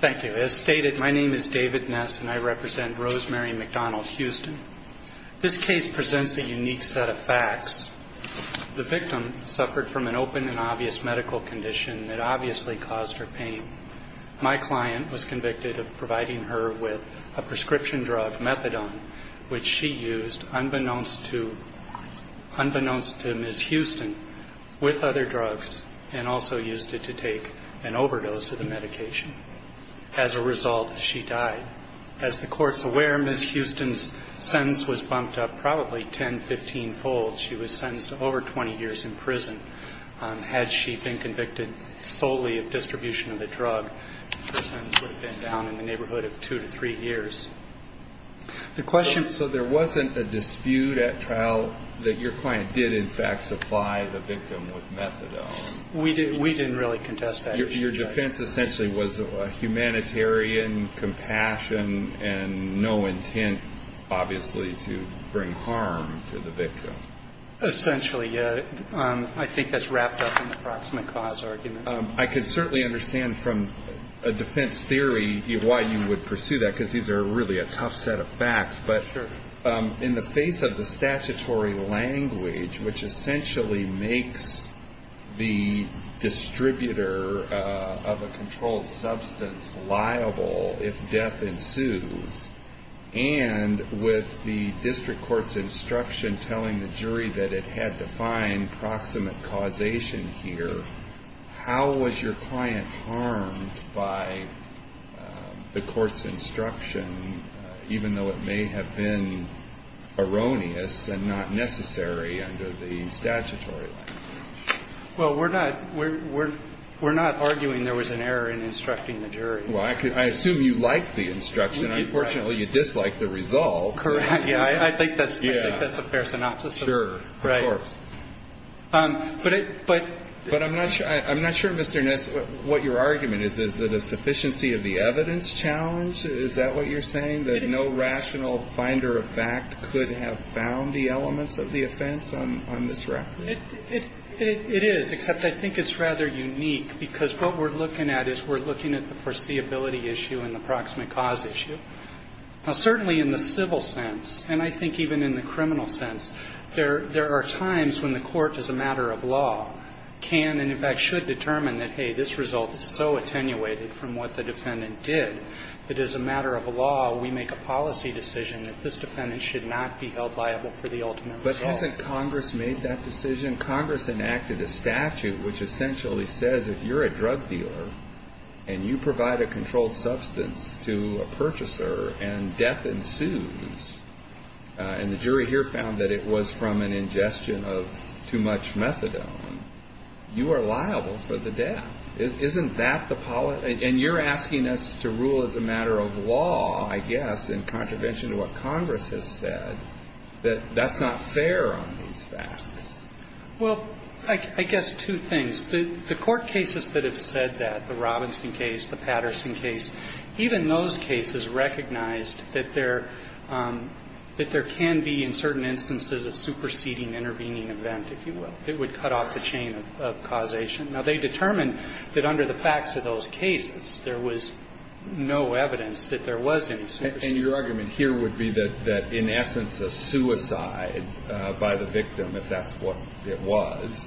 Thank you. As stated, my name is David Ness and I represent Rosemary McDonald Houston. This case presents a unique set of facts. The victim suffered from an open and obvious medical condition that obviously caused her pain. My client was convicted of providing her with a prescription drug, methadone, which she used unbeknownst to Ms. Houston with other drugs and also used it to take an overdose of the medication. As a result, she died. As the court's aware, Ms. Houston's sentence was bumped up probably 10, 15-fold. She was sentenced to over 20 years in prison. Had she been convicted solely of distribution of the drug, her sentence would have been down in the neighborhood of two to three years. The question... So there wasn't a dispute at trial that your client did in fact supply the victim with methadone? We didn't really contest that. Your defense essentially was a humanitarian compassion and no intent, obviously, to bring harm to the victim. Essentially, yeah. I think that's wrapped up in the proximate cause argument. I could certainly understand from a defense theory why you would pursue that, because these are really a tough set of facts. But in the face of the statutory language, which essentially makes the distributor of a controlled substance liable if death ensues, and with the district court's instruction telling the jury that it had to find proximate causation here, how was your client harmed by the court's instruction, even though it may have been erroneous and not necessary under the statutory language? Well, we're not arguing there was an error in instructing the jury. Well, I assume you liked the instruction. Unfortunately, you disliked the result. Correct. Yeah. I think that's a fair synopsis. Sure. Of course. But I'm not sure, Mr. Ness, what your argument is. Is it a sufficiency of the evidence challenge? Is that what you're saying, that no rational finder of fact could have found the elements of the offense on this record? It is, except I think it's rather unique, because what we're looking at is we're looking at the foreseeability issue and the proximate cause issue. Now, certainly in the civil sense, and I think even in the criminal sense, there are times when the court, as a matter of law, can and, in fact, should determine that, hey, this result is so attenuated from what the defendant did that, as a matter of law, we make a policy decision that this defendant should not be held liable for the ultimate result. But hasn't Congress made that decision? Congress enacted a statute which essentially says if you're a drug dealer and you provide a controlled substance to a purchaser and death ensues, and the jury here found that it was from an ingestion of too much methadone, you are liable for the death. Isn't that the policy? And you're asking us to rule as a matter of law, I guess, in contravention to what Congress has said, that that's not fair on these facts. Well, I guess two things. The court cases that have said that, the Robinson case, the Patterson case, even those cases recognized that there can be, in certain instances, a superseding intervening event, if you will, that would cut off the chain of causation. Now, they determined that under the facts of those cases, there was no evidence that there was any superseding. And your argument here would be that in essence, a suicide by the victim, if that's what it was,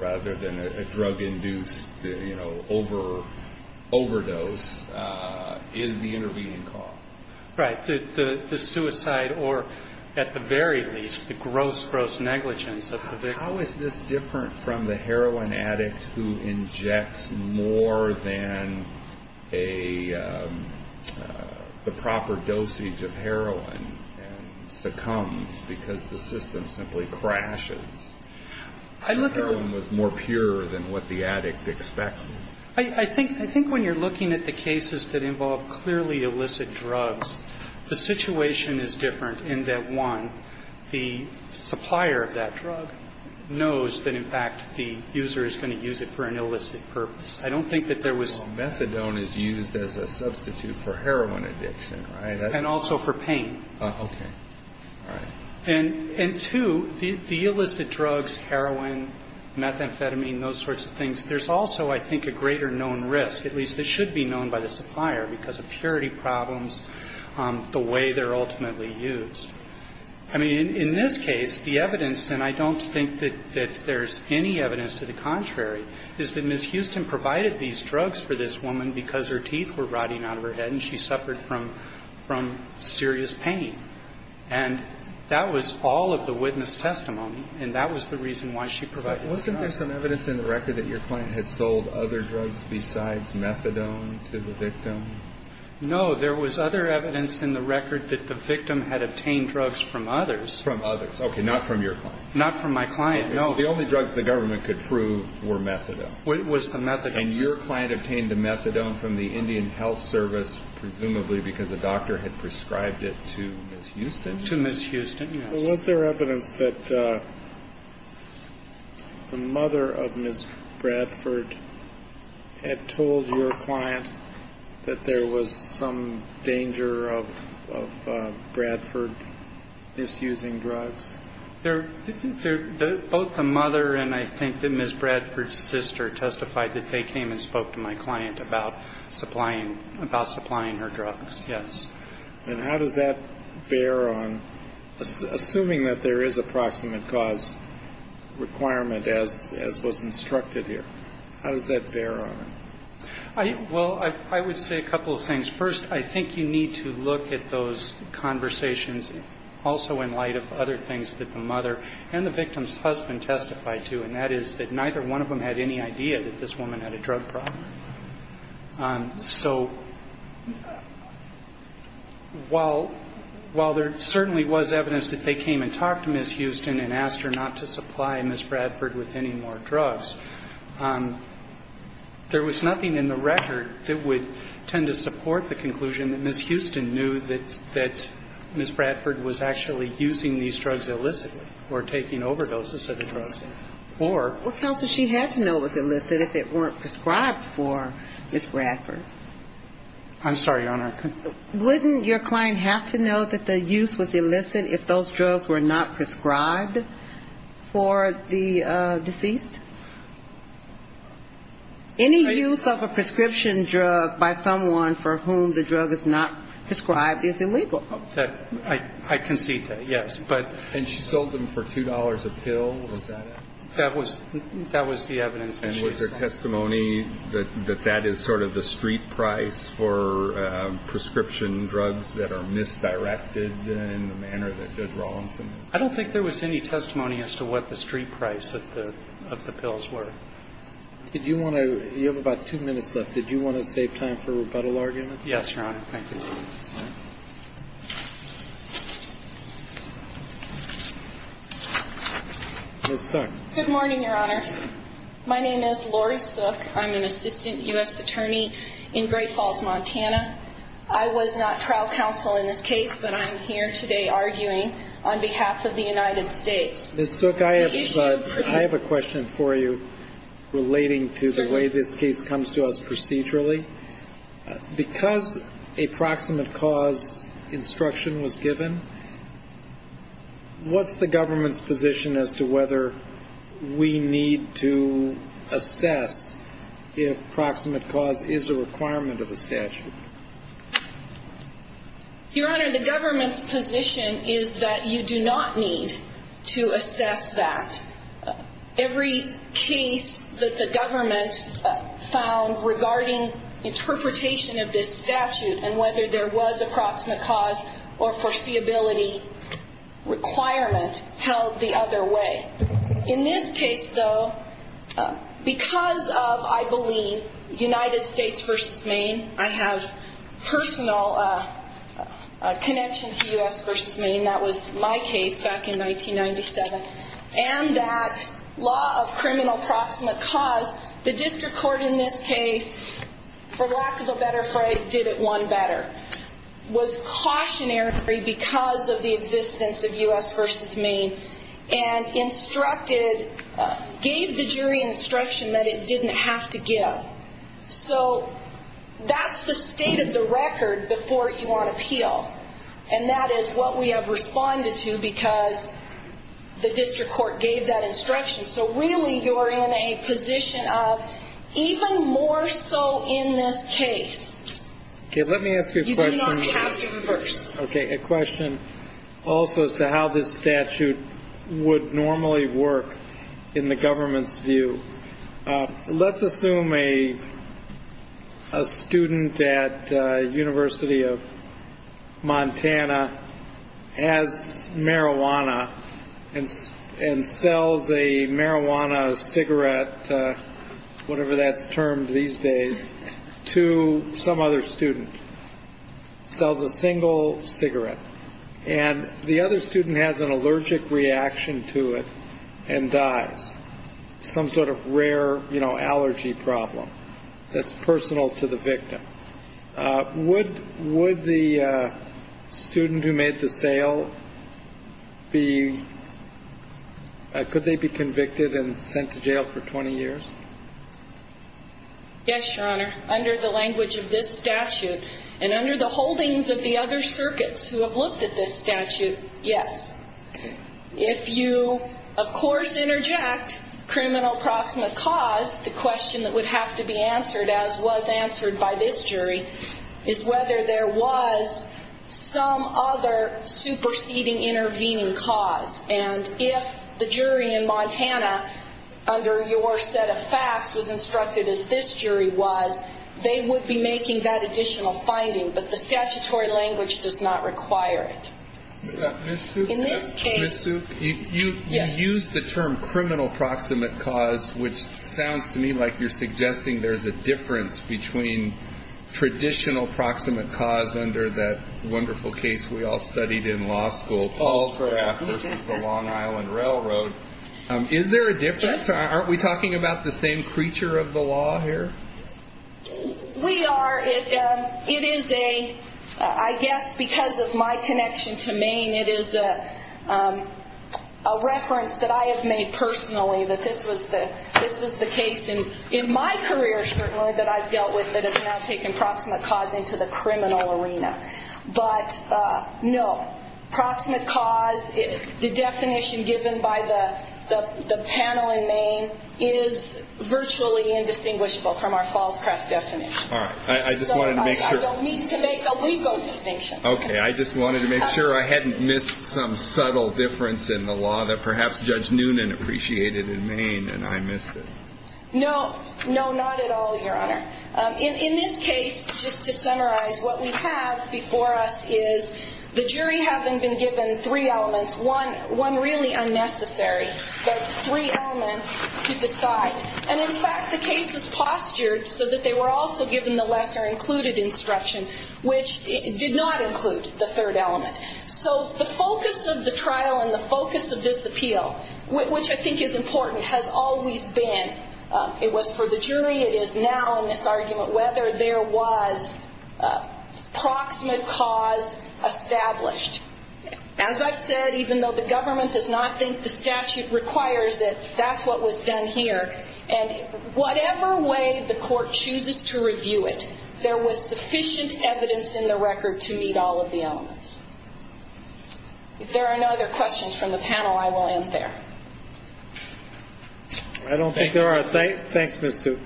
rather than a drug-induced, you know, overdose, is the intervening cause. Right. The suicide or, at the very least, the gross, gross negligence of the victim. How is this different from the heroin addict who injects more than a, the proper dosage of heroin and succumbs because the system simply crashes? I look at the ---- The heroin was more pure than what the addict expected. I think when you're looking at the cases that involve clearly illicit drugs, the situation is different in that, one, the supplier of that drug knows that, in fact, the user is going to use it for an illicit purpose. I don't think that there was ---- Methadone is used as a substitute for heroin addiction, right? And also for pain. Okay. All right. And, two, the illicit drugs, heroin, methamphetamine, those sorts of things, there's also, I think, a greater known risk, at least it should be known by the supplier, because of purity problems, the way they're ultimately used. I mean, in this case, the evidence, and I don't think that there's any evidence to the contrary, is that Ms. Houston provided these drugs for this woman because her teeth were rotting out of her head and she suffered from serious pain. And that was all of the witness testimony, and that was the reason why she provided the drugs. Wasn't there some evidence in the record that your client had sold other drugs besides methadone to the victim? No. There was other evidence in the record that the victim had obtained drugs from others. From others. Okay. Not from your client. Not from my client. No. The only drugs the government could prove were methadone. It was the methadone. And your client obtained the methadone from the Indian Health Service, presumably because the doctor had prescribed it to Ms. Houston? To Ms. Houston, yes. Was there evidence that the mother of Ms. Bradford had told your client that there was some danger of Bradford misusing drugs? Both the mother and I think that Ms. Bradford's sister testified that they came and spoke to my client about supplying her drugs, yes. And how does that bear on, assuming that there is a proximate cause requirement as was instructed here, how does that bear on it? Well, I would say a couple of things. First, I think you need to look at those conversations also in light of other things that the mother and the victim's husband testified to. And that is that neither one of them had any idea that this woman had a drug problem. So while there certainly was evidence that they came and talked to Ms. Houston and asked her not to supply Ms. Bradford with any more drugs, there was nothing in the record that would tend to support the conclusion that Ms. Houston knew that Ms. Bradford was actually using these drugs illicitly or taking overdoses of the drugs. Well, Counsel, she had to know it was illicit if it weren't prescribed for Ms. Bradford. I'm sorry, Your Honor. Wouldn't your client have to know that the use was illicit if those drugs were not prescribed for the deceased? Any use of a prescription drug by someone for whom the drug is not prescribed is illegal. I concede that, yes. And she sold them for $2 a pill. Was that it? That was the evidence that she sold. And was there testimony that that is sort of the street price for prescription drugs that are misdirected in the manner that Judge Rawlinson did? I don't think there was any testimony as to what the street price of the pills were. You have about two minutes left. Did you want to save time for rebuttal argument? Yes, Your Honor. Thank you. Ms. Suk. Good morning, Your Honor. My name is Lori Suk. I'm an assistant U.S. attorney in Great Falls, Montana. I was not trial counsel in this case, but I'm here today arguing on behalf of the United States. Ms. Suk, I have a question for you relating to the way this case comes to us procedurally. Because a proximate cause instruction was given, what's the government's position as to whether we need to assess if proximate cause is a requirement of the statute? Your Honor, the government's position is that you do not need to assess that. Every case that the government found regarding interpretation of this statute and whether there was a proximate cause or foreseeability requirement held the other way. In this case, though, because of, I believe, United States v. Maine, I have personal connection to U.S. v. Maine. That was my case back in 1997. And that law of criminal proximate cause, the district court in this case, for lack of a better phrase, did it one better. Was cautionary because of the existence of U.S. v. Maine and instructed, gave the jury instruction that it didn't have to give. So that's the state of the record before you want to appeal. And that is what we have responded to because the district court gave that instruction. So really you are in a position of even more so in this case. Okay. Let me ask you a question. You do not have to reverse. Okay. A question also as to how this statute would normally work in the government's view. Let's assume a student at University of Montana has marijuana and and sells a marijuana cigarette, whatever that's termed these days, to some other student. Sells a single cigarette and the other student has an allergic reaction to it and dies. Some sort of rare allergy problem that's personal to the victim. Would the student who made the sale be, could they be convicted and sent to jail for 20 years? Yes, Your Honor. Under the language of this statute and under the holdings of the other circuits who have looked at this statute, yes. If you, of course, interject criminal proximate cause, the question that would have to be answered, as was answered by this jury, is whether there was some other superseding intervening cause. And if the jury in Montana, under your set of facts, was instructed as this jury was, they would be making that additional finding. But the statutory language does not require it. Ms. Suk, you used the term criminal proximate cause, which sounds to me like you're suggesting there's a difference between traditional proximate cause under that wonderful case we all studied in law school. Allcraft versus the Long Island Railroad. Is there a difference? Aren't we talking about the same creature of the law here? We are. It is a, I guess because of my connection to Maine, it is a reference that I have made personally that this was the case. And in my career, certainly, that I've dealt with that has now taken proximate cause into the criminal arena. But no. Proximate cause, the definition given by the panel in Maine is virtually indistinguishable from our Fallscraft definition. All right. I just wanted to make sure. I don't need to make a legal distinction. Okay. I just wanted to make sure I hadn't missed some subtle difference in the law that perhaps Judge Noonan appreciated in Maine and I missed it. No. No, not at all, Your Honor. In this case, just to summarize, what we have before us is the jury having been given three elements, one really unnecessary, but three elements to decide. And, in fact, the case was postured so that they were also given the lesser included instruction, which did not include the third element. So the focus of the trial and the focus of this appeal, which I think is important, has always been, it was for the jury, it is now in this argument whether there was proximate cause established. As I've said, even though the government does not think the statute requires it, that's what was done here. And whatever way the court chooses to review it, there was sufficient evidence in the record to meet all of the elements. If there are no other questions from the panel, I will end there. I don't think there are. Thanks, Ms. Suk.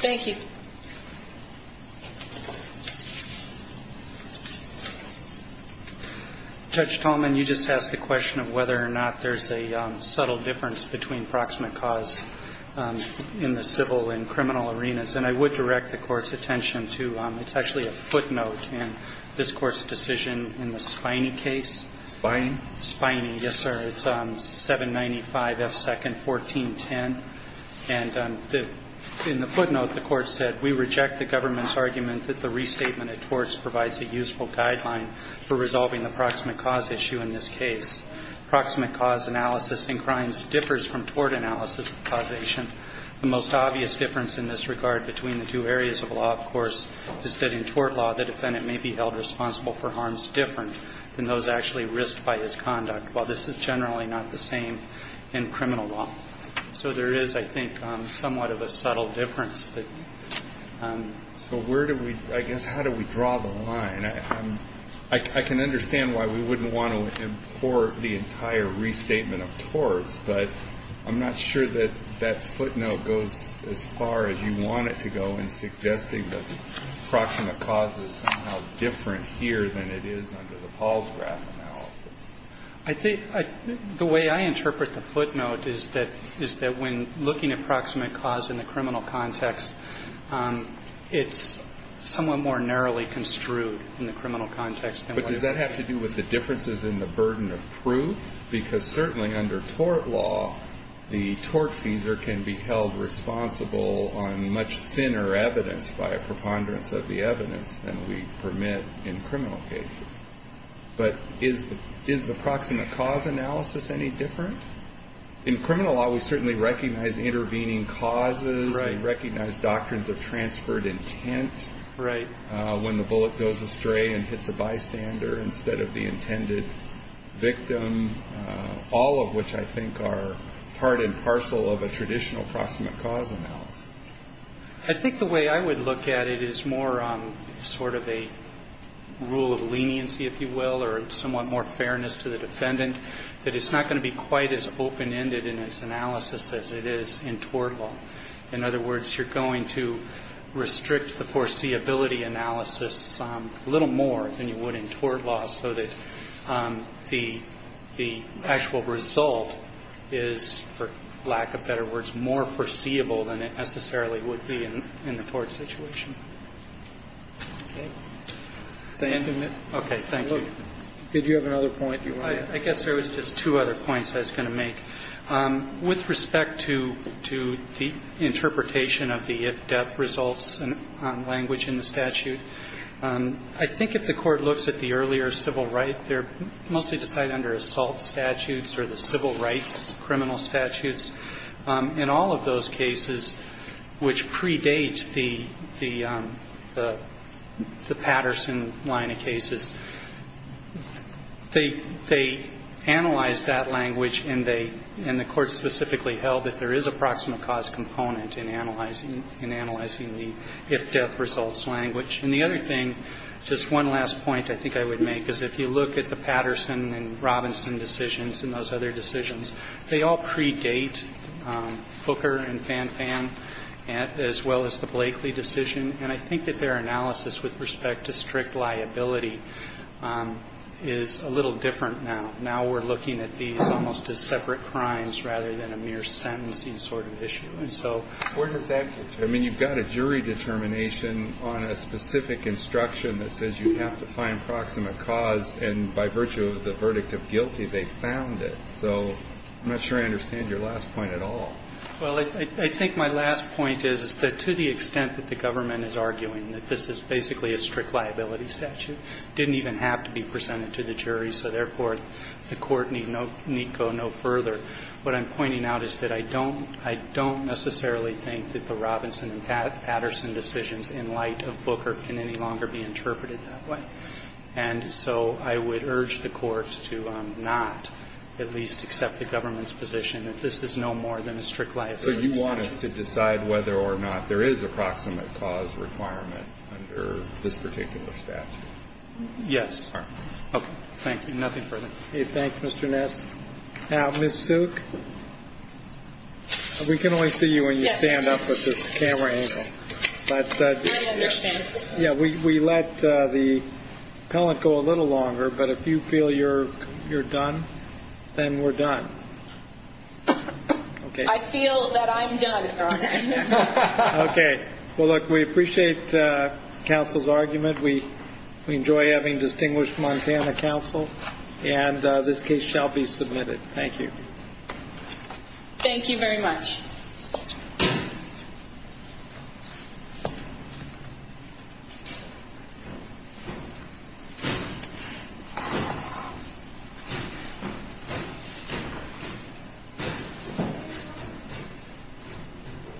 Thank you. Judge Tallman, you just asked the question of whether or not there's a subtle difference between proximate cause in the civil and criminal arenas. And I would direct the Court's attention to it's actually a footnote in this Court's decision in the Spiney case. Spiney? Spiney, yes, sir. It's 795F2nd 1410. And in the footnote, the Court said, We reject the government's argument that the restatement of torts provides a useful guideline for resolving the proximate cause issue in this case. Proximate cause analysis in crimes differs from tort analysis causation. The most obvious difference in this regard between the two areas of law, of course, is that in tort law the defendant may be held responsible for harms different than those actually risked by his conduct. While this is generally not the same in criminal law. So there is, I think, somewhat of a subtle difference. So where do we, I guess, how do we draw the line? I can understand why we wouldn't want to import the entire restatement of torts, but I'm not sure that that footnote goes as far as you want it to go in suggesting that proximate cause is somehow different here than it is under the Paul's graph analysis. I think the way I interpret the footnote is that when looking at proximate cause in the criminal context, it's somewhat more narrowly construed in the criminal context. But does that have to do with the differences in the burden of proof? Because certainly under tort law, the tortfeasor can be held responsible on much thinner evidence by a preponderance of the evidence than we permit in criminal cases. But is the proximate cause analysis any different? In criminal law, we certainly recognize intervening causes. We recognize doctrines of transferred intent. When the bullet goes astray and hits a bystander instead of the intended victim, all of which I think are part and parcel of a traditional proximate cause analysis. I think the way I would look at it is more sort of a rule of leniency, if you will, or somewhat more fairness to the defendant, that it's not going to be quite as open-ended in its analysis as it is in tort law. In other words, you're going to restrict the foreseeability analysis a little more than you would in tort law so that the actual result is, for lack of better words, more foreseeable than it necessarily would be in the tort situation. Okay. Thank you. Did you have another point you wanted to make? I guess there was just two other points I was going to make. With respect to the interpretation of the if-death results language in the statute, I think if the Court looks at the earlier civil right, they're mostly decided under assault statutes or the civil rights criminal statutes. In all of those cases which predate the Patterson line of cases, they analyze that language and they – and the Court specifically held that there is a proximate cause component in analyzing the if-death results language. And the other thing, just one last point I think I would make, is if you look at the Fooker and Fanfan, as well as the Blakeley decision, and I think that their analysis with respect to strict liability is a little different now. Now we're looking at these almost as separate crimes rather than a mere sentencing sort of issue. And so where does that get you? I mean, you've got a jury determination on a specific instruction that says you have to find proximate cause, and by virtue of the verdict of guilty, they found it. So I'm not sure I understand your last point at all. Well, I think my last point is that to the extent that the government is arguing that this is basically a strict liability statute, it didn't even have to be presented to the jury, so therefore the Court need go no further. What I'm pointing out is that I don't – I don't necessarily think that the Robinson and Patterson decisions in light of Fooker can any longer be interpreted that way. And so I would urge the courts to not at least accept the government's position that this is no more than a strict liability statute. So you want us to decide whether or not there is a proximate cause requirement under this particular statute? Yes. Okay. Thank you. Nothing further. Okay. Thanks, Mr. Ness. Ms. Suk, we can only see you when you stand up with this camera angle. Yes. I understand. Yeah, we let the pellet go a little longer, but if you feel you're done, then we're done. I feel that I'm done, Your Honor. Okay. Well, look, we appreciate counsel's argument. We enjoy having distinguished Montana counsel, and this case shall be submitted. Thank you. Thank you very much. Thank you.